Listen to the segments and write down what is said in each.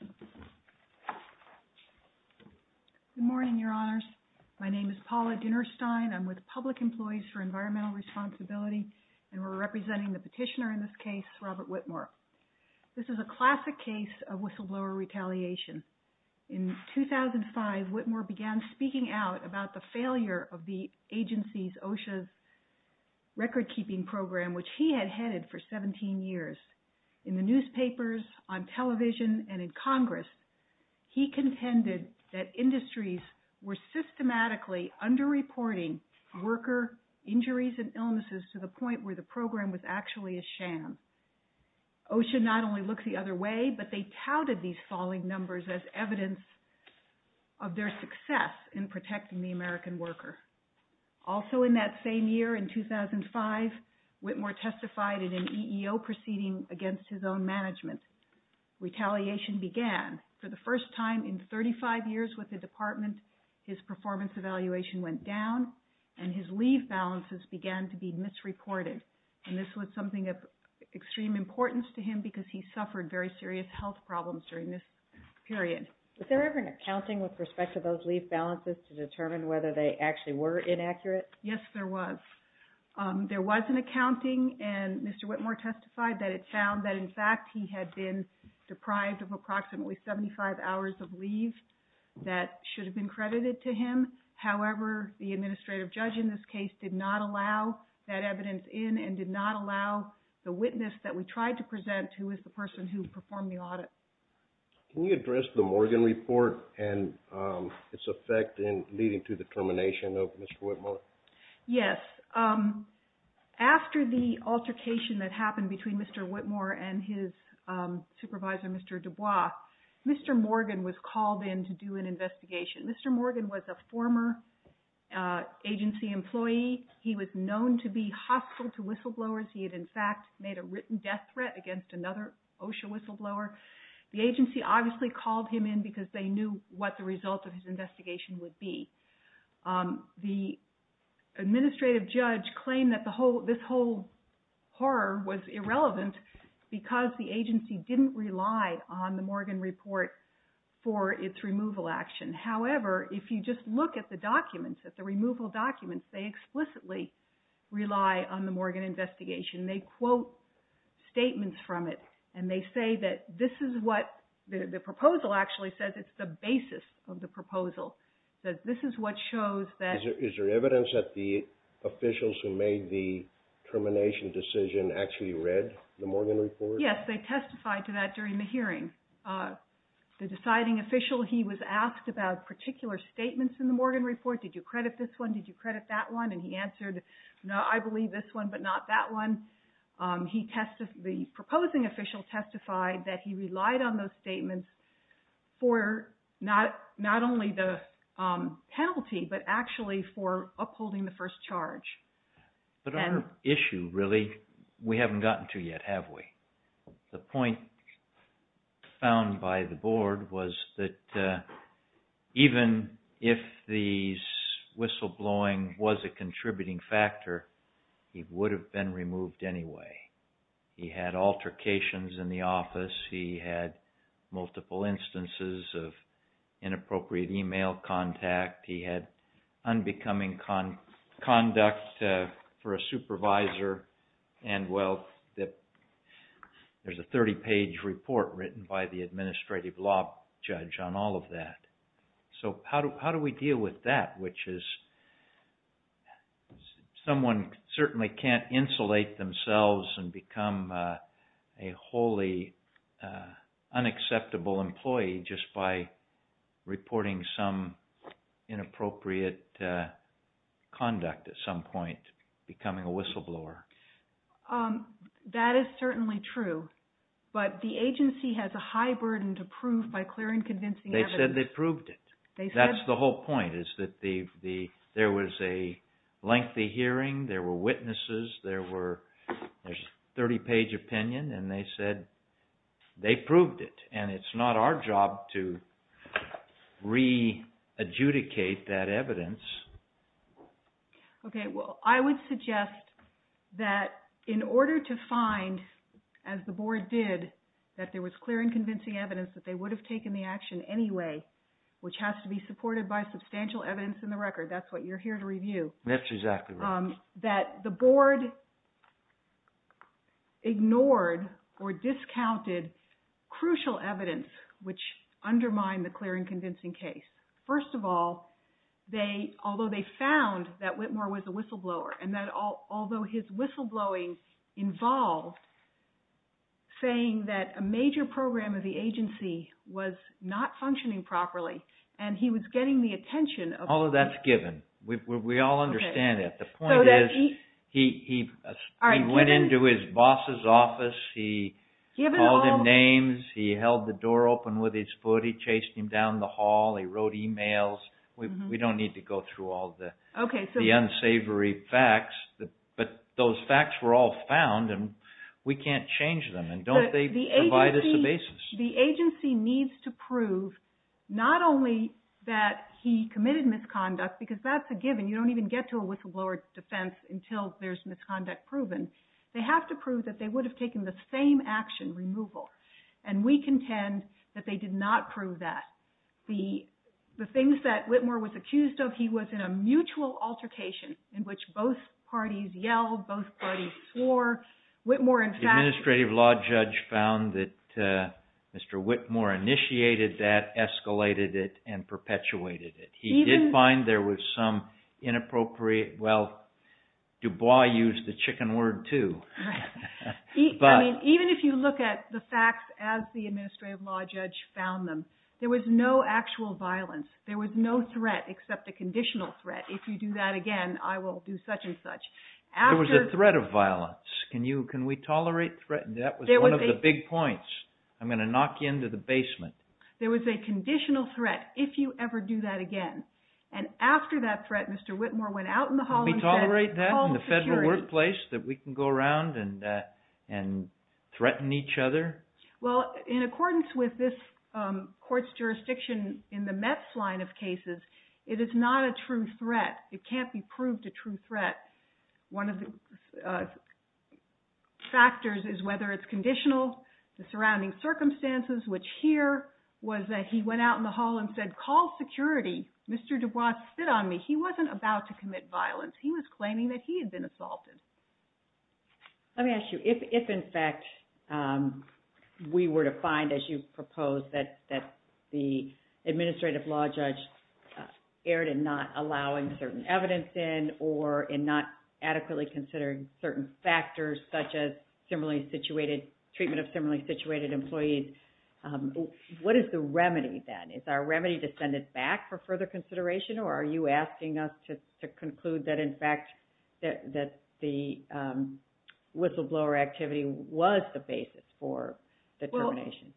Good morning, Your Honors. My name is Paula Dinnerstein. I'm with Public Employees for Environmental Responsibility, and we're representing the petitioner in this case, Robert Whitmore. This is a classic case of whistleblower retaliation. In 2005, Whitmore began speaking out about the failure of the agency's OSHA's record-keeping program, which he had headed for 17 years in the newspapers, on television, and in Congress. He contended that industries were systematically under-reporting worker injuries and illnesses to the point where the program was actually a sham. OSHA not only looked the other way, but they touted these falling numbers as evidence of their success in protecting the American worker. Also in that same year, in 2005, Whitmore testified in an EEO proceeding against his own management. Retaliation began. For the first time in 35 years with the department, his performance evaluation went down, and his leave balances began to be misreported. And this was something of extreme importance to him because he suffered very serious health problems during this period. Is there ever an accounting with respect to those leave balances to determine whether they actually were inaccurate? Yes, there was. There was an accounting, and Mr. Whitmore testified that it found that, in fact, he had been deprived of approximately 75 hours of leave that should have been credited to him. However, the administrative judge in this case did not allow that evidence in and did not allow the witness that we tried to present, who is the person who performed the audit. Can you address the Morgan report and its effect in leading to the termination of Mr. Whitmore? Yes. After the altercation that happened between Mr. Whitmore and his supervisor, Mr. Dubois, Mr. Morgan was called in to do an investigation. Mr. Morgan was a former agency employee. He was known to be hostile to potential whistleblower. The agency obviously called him in because they knew what the result of his investigation would be. The administrative judge claimed that this whole horror was irrelevant because the agency didn't rely on the Morgan report for its removal action. However, if you just look at the documents, at the removal documents, they explicitly rely on the Morgan investigation. They quote statements from it, and they say that this is what the proposal actually says. It's the basis of the proposal. This is what shows that... Is there evidence that the officials who made the termination decision actually read the Morgan report? Yes, they testified to that during the hearing. The deciding official, he was asked about particular statements in the Morgan report. Did you credit this one? Did you credit that one? And he answered, no, I believe this one, but not that one. The proposing official testified that he relied on those statements for not only the penalty, but actually for upholding the first charge. But our issue really, we haven't gotten to yet, have we? The point found by the board was that even if the whistleblowing was a contributing factor, he would have been removed anyway. He had altercations in the office. He had multiple for a supervisor, and well, there's a 30-page report written by the administrative law judge on all of that. So how do we deal with that, which is someone certainly can't insulate themselves and become a wholly unacceptable employee just by reporting some inappropriate conduct at some point, becoming a whistleblower? That is certainly true, but the agency has a high burden to prove by clear and convincing evidence. They said they proved it. That's the whole point, is that there was a lengthy hearing, there were witnesses, there was a 30-page opinion, and they said they proved it, and it's not our job to re-adjudicate that evidence. Okay, well, I would suggest that in order to find, as the board did, that there was clear and convincing evidence that they would have taken the action anyway, which has to be supported by substantial evidence in the record, that's what you're here to review. That's exactly right. That the board ignored or discounted crucial evidence which undermined the clear and convincing case. First of all, although they found that Whitmore was a whistleblower, and although his whistleblowing involved saying that a major program of the agency was not functioning properly, and he was getting the attention of... All of that's given. We all understand that. The point is, he went into his boss's office, he called him names, he held the door open with his foot, he chased him down the hall, he wrote emails. We don't need to go through all the unsavory facts, but those facts were all found, and we can't change them, and don't they provide us a basis? The agency needs to prove not only that he committed misconduct, because that's a given, you don't even get to a whistleblower defense until there's misconduct proven, they have to prove that they would have taken the same action, removal, and we contend that they did not prove that. The things that Whitmore was accused of, he was in a mutual altercation in which both parties yelled, both parties swore, Whitmore in fact... The Administrative Law Judge found that Mr. Whitmore initiated that, escalated it, and perpetuated it. He did find there was some inappropriate, well, Dubois used the chicken word too. Even if you look at the facts as the Administrative Law Judge found them, there was no actual violence, there was no threat except a conditional threat. If you do that again, I will do such and such. There was a threat of violence, can we tolerate threat? That was one of the big points. I'm going to knock you into the basement. There was a conditional threat, if you ever do that again, and after that threat, Mr. Whitmore went out in the hall and said... Can we tolerate that in the federal workplace, that we can go around and threaten each other? Well, in accordance with this court's jurisdiction in the METS line of cases, it is not a true threat. It can't be proved a true threat. One of the factors is whether it's conditional, the surrounding circumstances, which here was that he went out in the hall and said, call security. Mr. Dubois spit on me. He wasn't about to commit violence. He was claiming that he had been assaulted. Let me ask you, if in fact we were to find, as you proposed, that the administrative law judge erred in not allowing certain evidence in, or in not adequately considering certain factors such as treatment of similarly situated employees, what is the remedy then? Is our remedy to send it back for further consideration, or are you asking us to conclude that in fact that the whistleblower activity was the basis for the termination?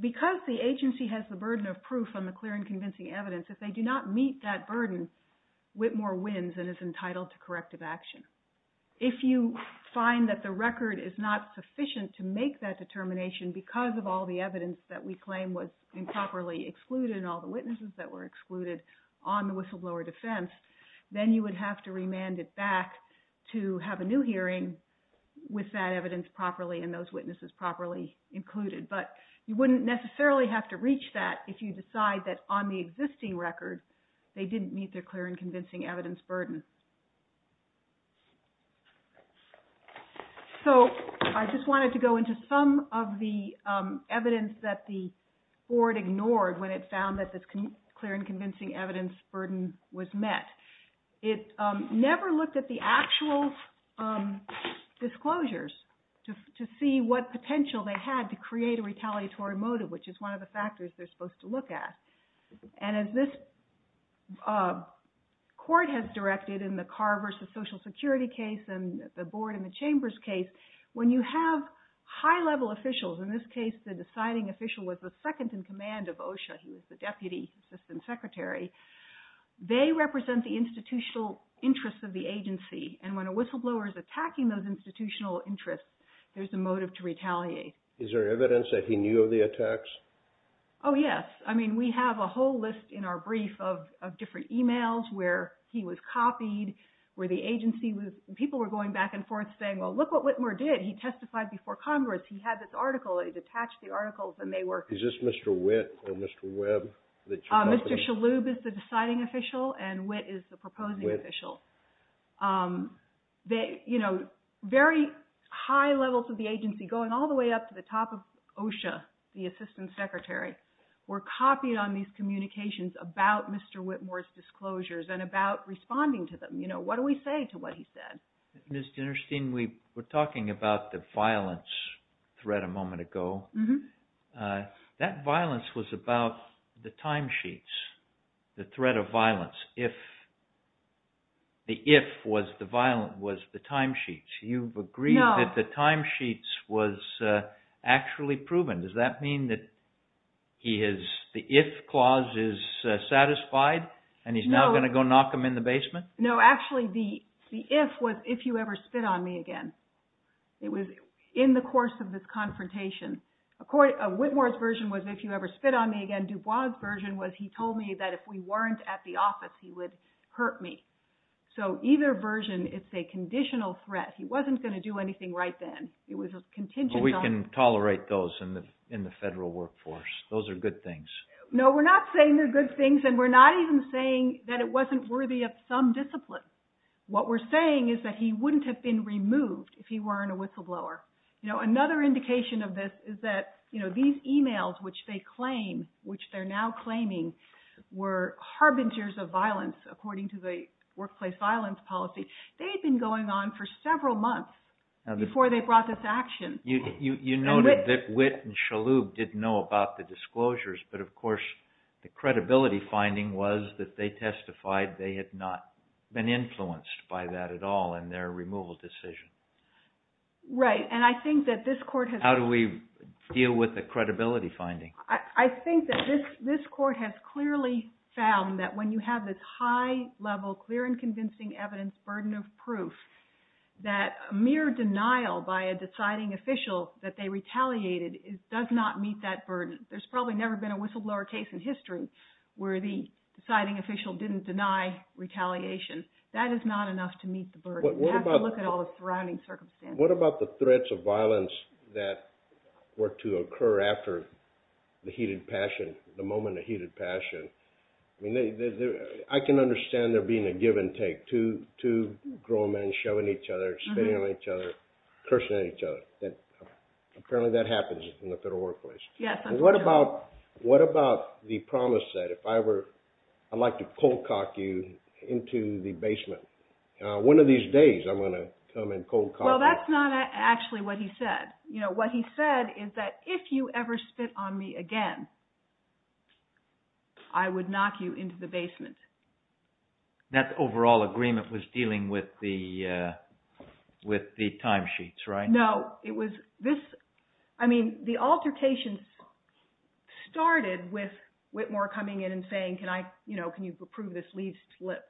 Because the agency has the burden of proof on the clear and convincing evidence, if they do not meet that burden, Whitmore wins and is entitled to corrective action. If you find that the record is not sufficient to make that determination because of all the evidence that we claim was improperly excluded, and all the witnesses that were excluded on the whistleblower defense, then you would have to remand it back to have a new hearing with that evidence properly and those witnesses properly included. But you wouldn't necessarily have to reach that if you decide that on the existing record they didn't meet their clear and convincing evidence burden. So I just wanted to go into some of the evidence that the board ignored when it found that clear and convincing evidence burden was met. It never looked at the actual disclosures to see what potential they had to create a retaliatory motive, which is one of the factors they're supposed to look at. And as this court has directed in the Carr v. Social Security case, and the board in the Chambers case, when you have high-level officials, in this case the signing official was the second in command of OSHA, he was the deputy assistant secretary, they represent the institutional interests of the agency. And when a whistleblower is attacking those institutional interests, there's a motive to retaliate. Is there evidence that he knew of the attacks? Oh yes. I mean we have a whole list in our brief of different emails where he was copied, where the agency was, people were going back and forth saying, well look what Whitmore did, he testified before Congress, he had this article, he detached the articles and they were... Is this Mr. Witt or Mr. Webb? Mr. Shalhoub is the deciding official, and Witt is the proposing official. Very high levels of the agency, going all the way up to the top of OSHA, the assistant secretary, were copied on these communications about Mr. Whitmore's disclosures and about responding to them. What do we say to what he said? Ms. Dinnerstein, we were talking about the violence threat a moment ago. That violence was about the timesheets, the threat of violence. The if was the timesheets. You've agreed that the timesheets was actually proven. Does that mean that the if clause is satisfied and he's now going to go knock them in the basement? No, actually the if was if you ever spit on me again. It was in the course of this confrontation. Whitmore's version was if you ever spit on me again. Dubois' version was he told me that if we weren't at the office he would hurt me. So either version, it's a conditional threat. He wasn't going to do anything right then. It was a contingent... But we can tolerate those in the federal workforce. Those are good things. No, we're not saying they're good things and we're not even saying that it wasn't worthy of some discipline. What we're saying is that he wouldn't have been removed if he weren't a whistleblower. Another indication of this is that these emails which they claim, which they're now claiming, were harbingers of violence according to the workplace violence policy. They had been going on for several months before they brought this action. You noted that Whit and Shalhoub didn't know about the disclosures, but of course the credibility finding was that they testified they had not been influenced by that at all in their removal decision. Right, and I think that this court has... How do we deal with the credibility finding? I think that this court has clearly found that when you have this high level, clear and convincing evidence, burden of proof, that mere denial by a deciding official that they retaliated does not meet that burden. There's probably never been a whistleblower case in history where the deciding official didn't deny retaliation. That is not enough to meet the burden. You have to look at all the surrounding circumstances. What about the threats of violence that were to occur after the heated passion, the moment of heated passion? I can understand there being a give and take, two grown men shoving each other, spitting on each other, cursing at each other. Apparently that happens in the federal workplace. What about the promise that I'd like to cold cock you into the basement? One of these days I'm going to come and cold cock you. That's not actually what he said. What he said is that if you ever spit on me again, I would knock you into the basement. That overall agreement was dealing with the timesheets, right? No. The altercations started with Whitmore coming in and saying, can you approve this lease slip?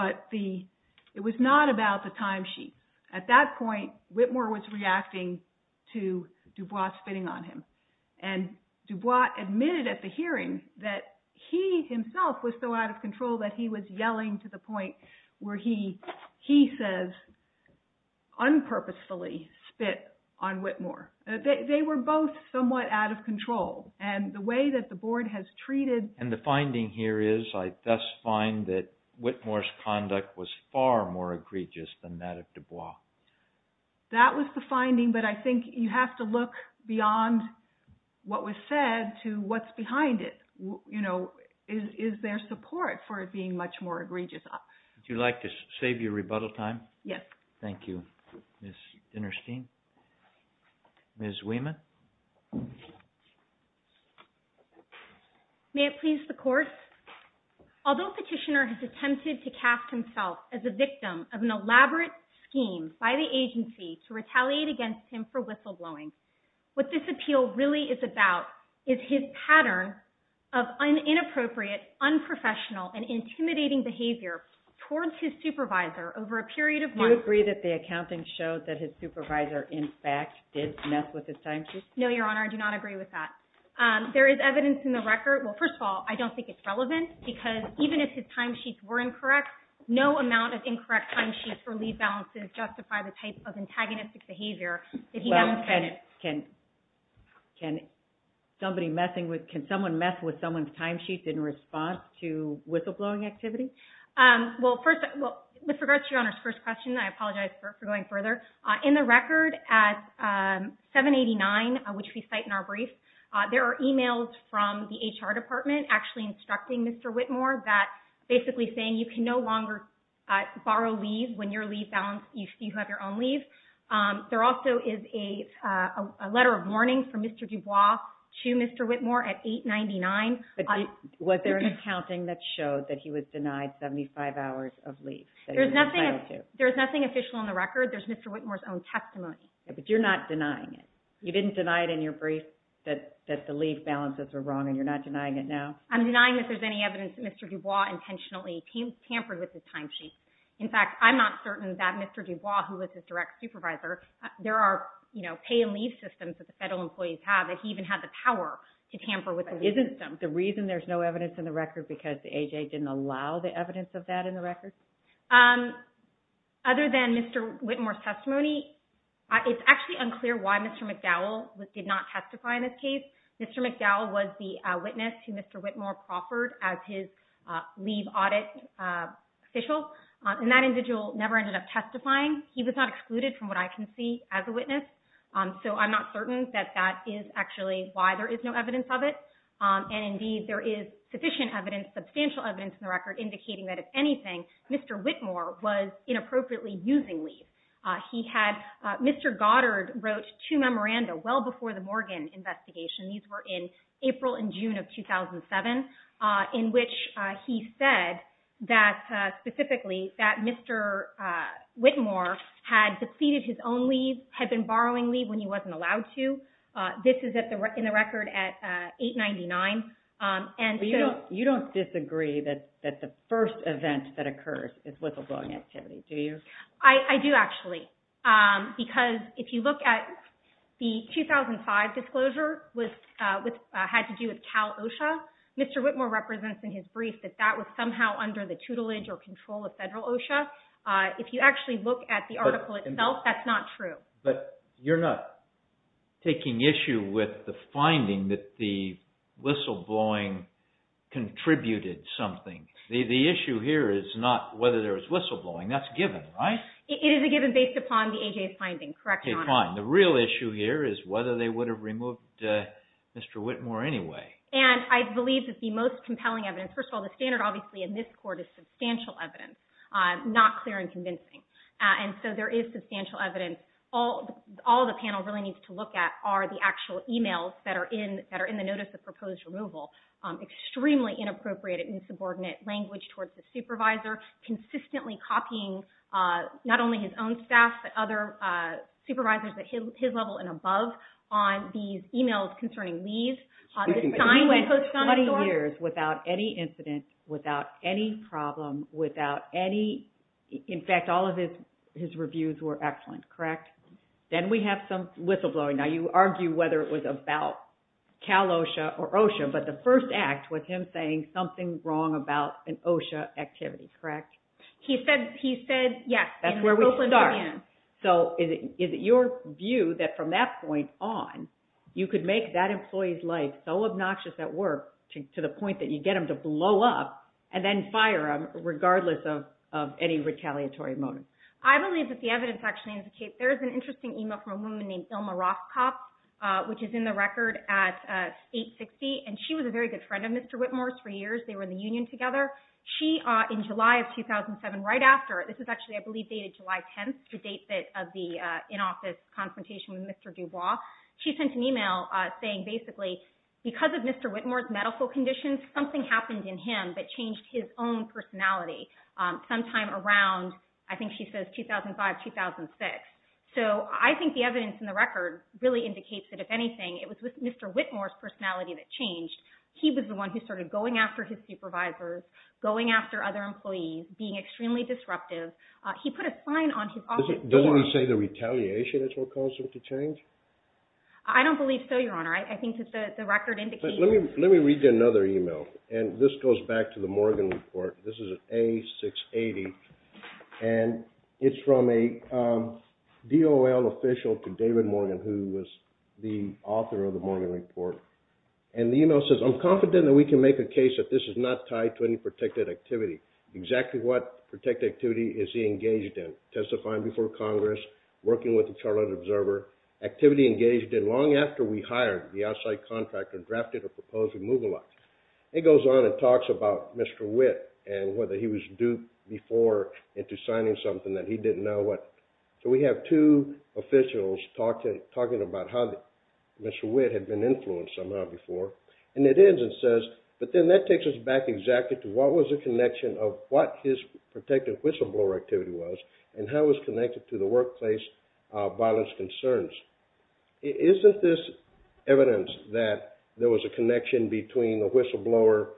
It was not about the timesheet. At that point, Whitmore was reacting to DuBois spitting on him. DuBois admitted at the hearing that he himself was so out of control that he was yelling to the point where he says, unpurposefully spit on Whitmore. They were both somewhat out of control. The way that the board has treated... And the finding here is, I thus find that Whitmore's conduct was far more egregious than that of DuBois. That was the finding, but I think you have to look beyond what was said to what's behind it. Is there support for it being much more egregious? Would you like to save your May it please the court? Although Petitioner has attempted to cast himself as a victim of an elaborate scheme by the agency to retaliate against him for whistleblowing, what this appeal really is about is his pattern of inappropriate, unprofessional, and intimidating behavior towards his supervisor over a period of months. Do you agree that the accounting showed that his supervisor, in fact, did mess with his timesheet? No, Your Honor. I do not agree with that. There is evidence in the record... Well, first of all, I don't think it's relevant because even if his timesheets were incorrect, no amount of incorrect timesheets or lead balances justify the type of antagonistic behavior that he demonstrated. Can somebody messing with... Can someone mess with someone's timesheets in response to whistleblowing activity? Well, first... With regards to Your Honor's first question, I apologize for going further. In the record at 789, which we cite in our brief, there are emails from the HR department actually instructing Mr. Whitmore that basically saying you can no longer borrow leave when your leave balance... You have your own leave. There also is a letter of warning from Mr. Dubois to Mr. Whitmore at 899. Was there an accounting that showed that he was denied 75 hours of leave? There's nothing official in the record. There's Mr. Whitmore's own testimony. But you're not denying it? You didn't deny it in your brief that the leave balances were wrong and you're not denying it now? I'm denying that there's any evidence that Mr. Dubois intentionally tampered with his timesheet. In fact, I'm not certain that Mr. Dubois, who was his direct supervisor, there are pay and leave systems that the federal employees have that he even had the power to tamper with the leave system. Isn't the reason there's no evidence in the record because the AJA didn't allow the evidence of that in the record? Other than Mr. Whitmore's testimony, it's actually unclear why Mr. McDowell did not testify in this case. Mr. McDowell was the witness who Mr. Whitmore proffered as his leave audit official. And that individual never ended up testifying. He was not excluded from what I can see as a witness. So I'm not certain that that is actually why there is no evidence of it. And indeed, there is sufficient evidence, substantial evidence in the record indicating that if anything, Mr. Whitmore was inappropriately using leave. Mr. Goddard wrote two memoranda well before the Morgan investigation. These were in April and June of 2007, in which he said that specifically that Mr. Whitmore had depleted his own leave, had been borrowing leave when he was in office. You don't disagree that the first event that occurs is whistleblowing activity, do you? I do, actually. Because if you look at the 2005 disclosure, which had to do with Cal OSHA, Mr. Whitmore represents in his brief that that was somehow under the tutelage or control of federal OSHA. If you actually look at the article itself, that's not true. But you're not taking issue with the finding that the whistleblowing contributed something. The issue here is not whether there was whistleblowing. That's given, right? It is a given based upon the AJA's finding. Correct me if I'm wrong. Okay, fine. The real issue here is whether they would have removed Mr. Whitmore anyway. And I believe that the most compelling evidence, first of all, the standard obviously in this court is substantial evidence, not clear and convincing. And so there is substantial evidence. All the panel really needs to look at are the actual emails that are in the notice of proposed removal. Extremely inappropriate and insubordinate language towards the supervisor. Consistently copying not only his own staff, but other supervisors at his level and above on these emails concerning leave. He went 20 years without any incident, without any problem, without any... In fact, all of his reviews were excellent, correct? Then we have some whistleblowing. Now you argue whether it was about Cal-OSHA or OSHA, but the first act was him saying something wrong about an OSHA activity, correct? He said, yes. That's where we start. So is it your view that from that point on, you could make that employee's life so obnoxious at work to the point that you get him to blow up and then fire him regardless of any retaliatory motive? I believe that the evidence actually indicates... There's an interesting email from a woman named Ilma Rothkopf, which is in the record at 860, and she was a very good friend of Mr. Whitmore's for years. They were in the union together. She, in July of 2007, right after... This is actually, I believe, dated July 10th, the date of the in-office confrontation with Mr. Dubois. She sent an email saying basically, because of Mr. Whitmore's medical conditions, something happened in him that changed his own personality sometime around, I think she says, 2005, 2006. So I think the evidence in the record really indicates that, if anything, it was Mr. Whitmore's personality that changed. He was the one who started going after his supervisors, going after other employees, being extremely disruptive. He put a sign on his office... Doesn't he say the retaliation is what caused him to change? I don't believe so, Your Honor. I think that the record indicates... Let me read you another email, and this goes back to the Morgan Report. This is an A680, and it's from a DOL official to David Morgan, who was the author of the Morgan Report. The email says, I'm confident that we can make a case that this is not tied to any protected activity. Exactly what protected activity is he engaged in? Testifying before Congress, working with the Charlotte Observer, activity engaged in long after we hired the contractor, drafted or proposed removal act. It goes on and talks about Mr. Whit, and whether he was duped before into signing something that he didn't know what. So we have two officials talking about how Mr. Whit had been influenced somehow before, and it ends and says, but then that takes us back exactly to what was the connection of what his protected whistleblower activity was, and how it was connected to the workplace violence concerns. Isn't this evidence that there was a connection between the whistleblower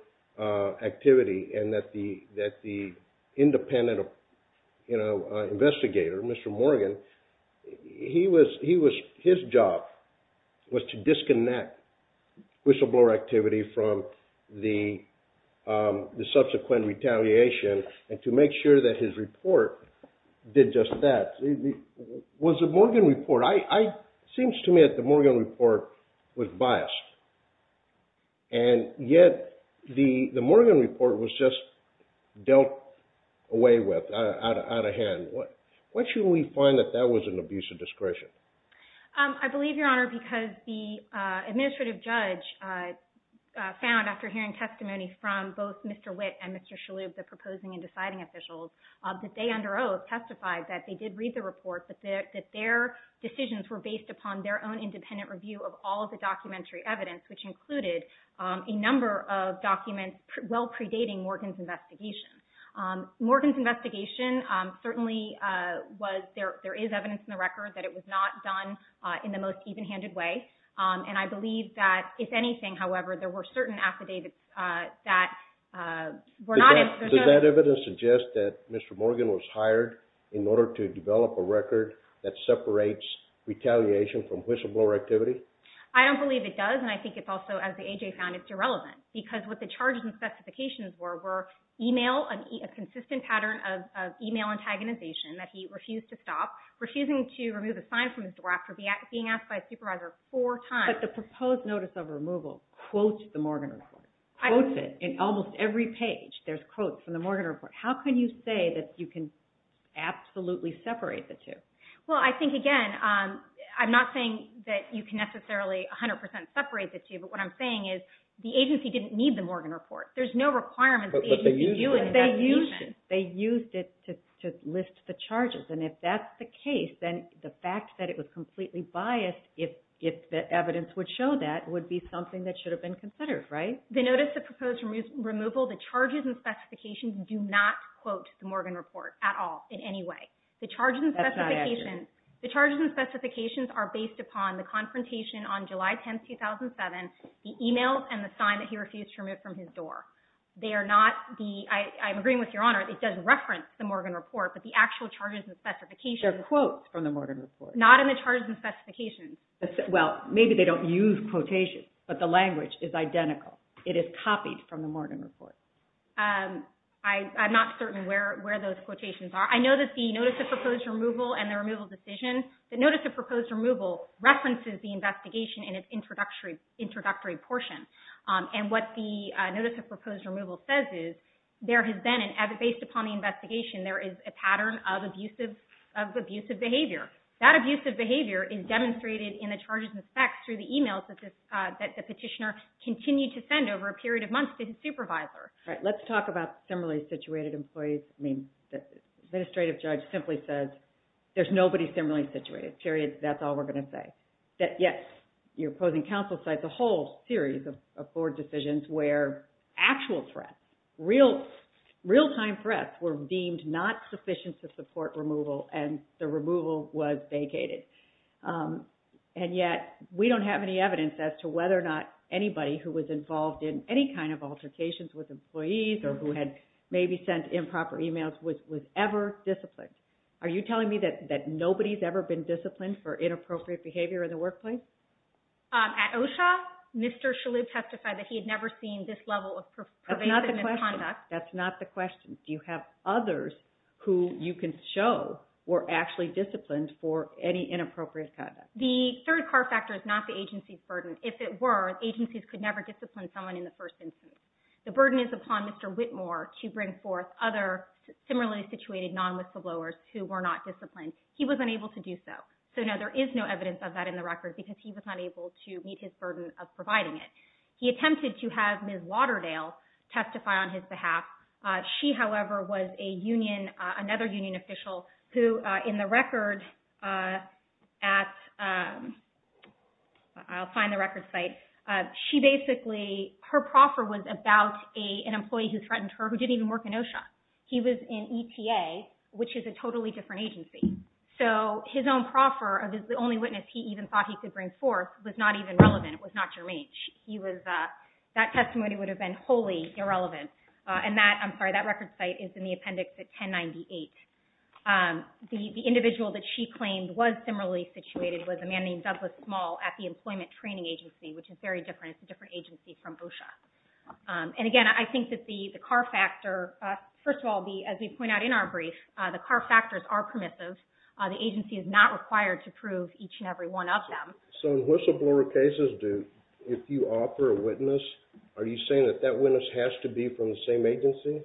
activity and that the independent investigator, Mr. Morgan, his job was to disconnect whistleblower activity from the subsequent retaliation, and to make sure that his report did just that? Was the Morgan Report, it seems to me that the Morgan Report was biased, and yet the Morgan Report was just dealt away with, out of hand. Why should we find that that was an abuse of discretion? I believe, Your Honor, because the administrative judge found after hearing testimony from both Mr. Oath testified that they did read the report, that their decisions were based upon their own independent review of all of the documentary evidence, which included a number of documents well predating Morgan's investigation. Morgan's investigation certainly was, there is evidence in the record that it was not done in the most even-handed way, and I believe that if anything, however, there were certain affidavits that were not. Does that evidence suggest that Mr. Morgan was hired in order to develop a record that separates retaliation from whistleblower activity? I don't believe it does, and I think it's also, as the A.J. found, it's irrelevant, because what the charges and specifications were, were email, a consistent pattern of email antagonization that he refused to stop, refusing to remove a sign from his door after being asked by a supervisor four times. But the proposed notice of removal quotes the Morgan report. Quotes it in almost every page. There's quotes from the Morgan report. How can you say that you can absolutely separate the two? Well, I think, again, I'm not saying that you can necessarily 100% separate the two, but what I'm saying is the agency didn't need the Morgan report. There's no requirements. But they used it. They used it. They used it to list the charges, and if that's the case, then the fact that it was completely biased, if the evidence would show that, would be something that should have been considered, right? The notice of proposed removal, the charges and specifications do not quote the Morgan report at all, in any way. The charges and specifications are based upon the confrontation on July 10, 2007, the emails and the sign that he refused to remove from his door. They are not the, I'm agreeing with Your Honor, it does reference the Morgan report, but the actual charges and specifications They're quotes from the Morgan report. Not in the charges and specifications. Well, maybe they don't use quotations, but the language is identical. It is copied from the Morgan report. I'm not certain where those quotations are. I know that the notice of proposed removal and the removal decision, the notice of proposed removal references the investigation in its introductory portion, and what the notice of proposed removal says is there has been, based upon the investigation, there is a pattern of abusive behavior. That abusive behavior is demonstrated in the charges and specs through the emails that the petitioner continued to send over a period of months to his supervisor. All right, let's talk about similarly situated employees. I mean, the administrative judge simply says, there's nobody similarly situated, period. That's all we're going to say. That, yes, your opposing counsel cites a whole series of board decisions where actual threats, real-time threats were deemed not sufficient to support removal and the removal was vacated. And yet, we don't have any evidence as to whether or not anybody who was involved in any kind of altercations with employees or who had maybe sent improper emails was ever disciplined. Are you telling me that nobody's ever been disciplined for inappropriate behavior in the workplace? At OSHA, Mr. Shalhoub testified that he had never seen this level of pervasive That's not the question. Do you have others who you can show were actually disciplined for any inappropriate conduct? The third car factor is not the agency's burden. If it were, agencies could never discipline someone in the first instance. The burden is upon Mr. Whitmore to bring forth other similarly situated non-whistleblowers who were not disciplined. He was unable to do so. So, no, there is no evidence of that in the record because he was not able to meet his burden of providing it. He attempted to have Ms. Waterdale testify on his behalf. She, however, was a union, another union official who in the record at, I'll find the record site. She basically, her proffer was about an employee who threatened her who didn't even work in OSHA. He was in ETA, which is a totally different agency. So, his own proffer, the only witness he even thought he could bring forth was not even relevant. It was not Jermaine. He was, that testimony would have been wholly irrelevant. And that, I'm sorry, that record site is in the appendix at 1098. The individual that she claimed was similarly situated was a man named Douglas Small at the Employment Training Agency, which is very different. It's a different agency from OSHA. And again, I think that the car factor, first of all, as we point out in our brief, the car factors are permissive. The agency is not required to prove each and every one of them. So, in whistleblower cases, do, if you offer a witness, are you saying that that witness has to be from the same agency?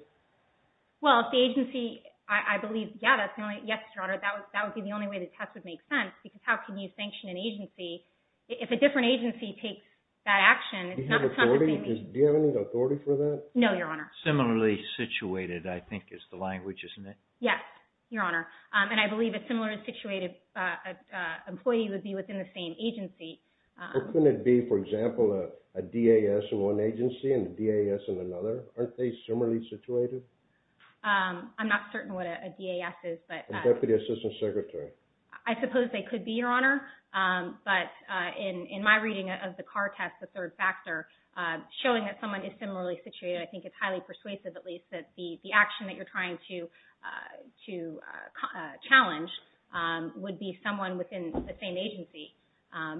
Well, if the agency, I believe, yeah, that's, yes, Your Honor, that would be the only way the test would make sense. Because how can you sanction an agency if a different agency takes that action? Do you have any authority for that? No, Your Honor. Similarly situated, I think, is the language, isn't it? Yes, Your Honor. And I believe a similarly situated employee would be within the same agency. Or couldn't it be, for example, a DAS in one agency and a DAS in another? Aren't they similarly situated? I'm not certain what a DAS is, but... A Deputy Assistant Secretary. I suppose they could be, Your Honor. But in my reading of the car test, the third factor, showing that someone is similarly situated, I think it's highly persuasive, at least, that the action that you're trying to challenge would be someone within the same agency.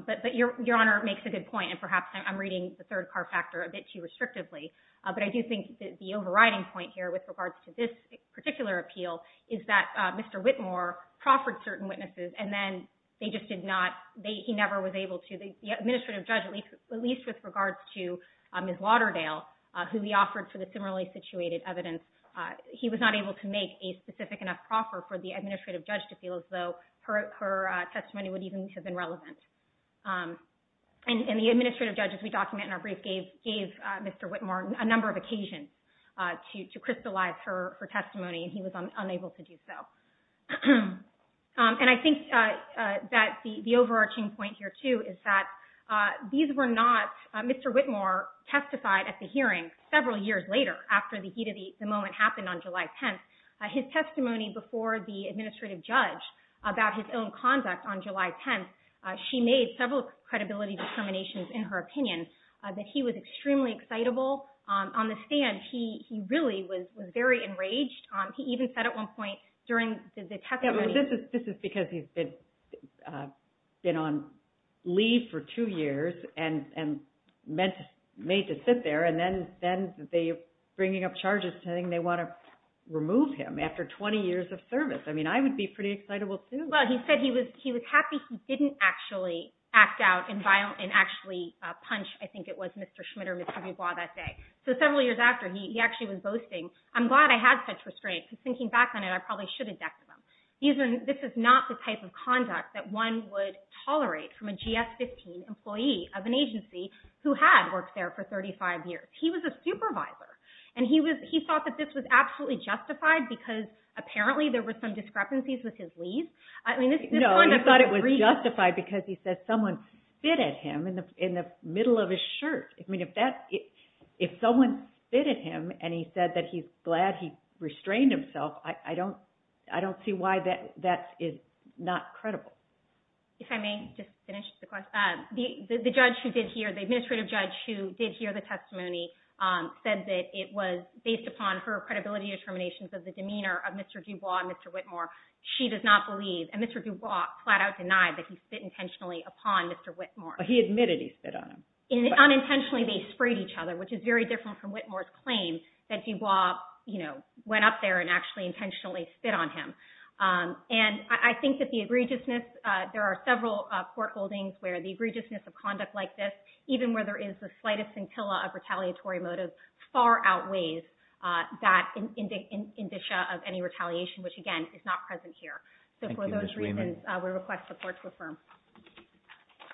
But Your Honor makes a good point. And perhaps I'm reading the third car factor a bit too restrictively. But I do think that the overriding point here, with regards to this particular appeal, is that Mr. Whitmore proffered certain witnesses, and then they just did not, he never was able to, the administrative judge, at least with regards to Ms. Waterdale, who he offered for the similarly situated evidence, he was not able to make a specific enough proffer for the administrative judge to feel as though her testimony would even have been relevant. And the administrative judge, as we document in our brief, gave Mr. Whitmore a number of occasions to crystallize her testimony, and he was unable to do so. And I think that the overarching point here, too, is that these were not, Mr. Whitmore testified at the hearing several years later, after the heat of the moment happened on July 10th. His testimony before the administrative judge about his own conduct on July 10th, she made several credibility determinations, in her opinion, that he was extremely excitable on the stand. He really was very enraged. He even said at one point, during the testimony- This is because he's been on leave for two years and made to sit there, and then they're bringing up charges saying they want to remove him after 20 years of service. I mean, I would be pretty excitable, too. Well, he said he was happy he didn't actually act out and actually punch, I think it was, Mr. Schmidt or Mr. Dubois that day. So several years after, he actually was boasting, I'm glad I had such restraint, because thinking back on it, I probably should have next to him. This is not the type of conduct that one would tolerate from a GS-15 employee of an agency who had worked there for 35 years. He was a supervisor, and he thought that this was absolutely justified because apparently there were some discrepancies with his leave. No, he thought it was justified because he said someone spit at him in the middle of his shirt. I mean, if someone spit at him and he said that he's glad he restrained himself, I don't see why that is not credible. If I may just finish the question, the judge who did hear, the administrative judge who did hear the testimony said that it was based upon her credibility determinations of the demeanor of Mr. Dubois and Mr. Whitmore. She does not believe, and Mr. Dubois flat out denied that he spit intentionally upon Mr. Whitmore. He admitted he spit on him. which is very different from Whitmore's claim that Dubois went up there and actually intentionally spit on him. And I think that the egregiousness, there are several court holdings where the egregiousness of conduct like this, even where there is the slightest scintilla of retaliatory motive far outweighs that indicia of any retaliation, which again is not present here. So for those reasons, we request the court to affirm.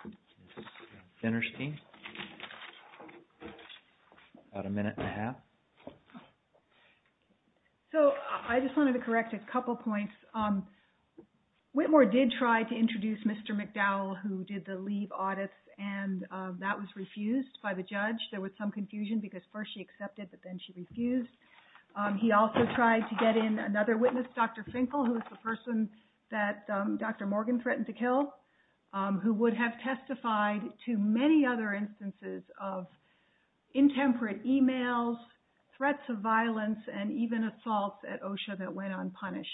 This is interesting. About a minute and a half. So I just wanted to correct a couple points. Whitmore did try to introduce Mr. McDowell, who did the leave audits and that was refused by the judge. There was some confusion because first she accepted, but then she refused. He also tried to get in another witness, Dr. Finkel, who is the person that Dr. Morgan threatened to kill. Who would have testified to many other instances of intemperate emails, threats of violence, and even assaults at OSHA that went unpunished.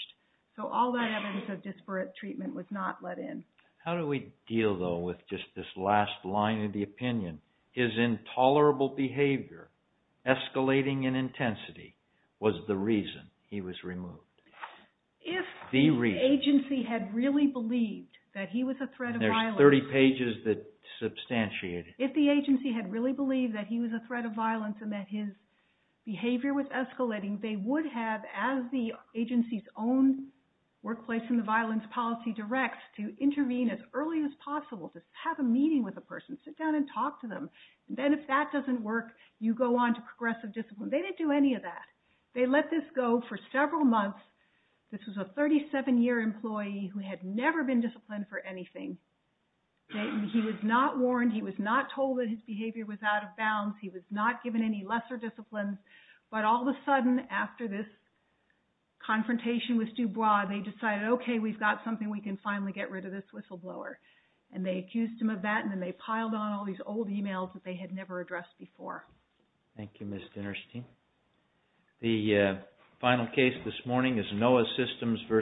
So all that evidence of disparate treatment was not let in. How do we deal though with just this last line of the opinion? His intolerable behavior, escalating in intensity, was the reason he was removed. If the agency had really believed that he was a threat of violence. There's 30 pages that substantiate it. If the agency had really believed that he was a threat of violence and that his behavior was escalating, they would have, as the agency's own workplace in the violence policy directs, to intervene as early as possible, to have a meeting with the person, sit down and talk to them. Then if that doesn't work, you go on to progressive discipline. They didn't do any of that. They let this go for several months. This was a 37-year employee who had never been disciplined for anything. He was not warned. He was not told that his behavior was out of bounds. He was not given any lesser disciplines. But all of a sudden, after this confrontation with Dubois, they decided, okay, we've got something. We can finally get rid of this whistleblower. And they accused him of that. And then they piled on all these old emails that they had never addressed before. Thank you, Ms. Dinerstein. The final case this morning is NOAA Systems v. Intuit.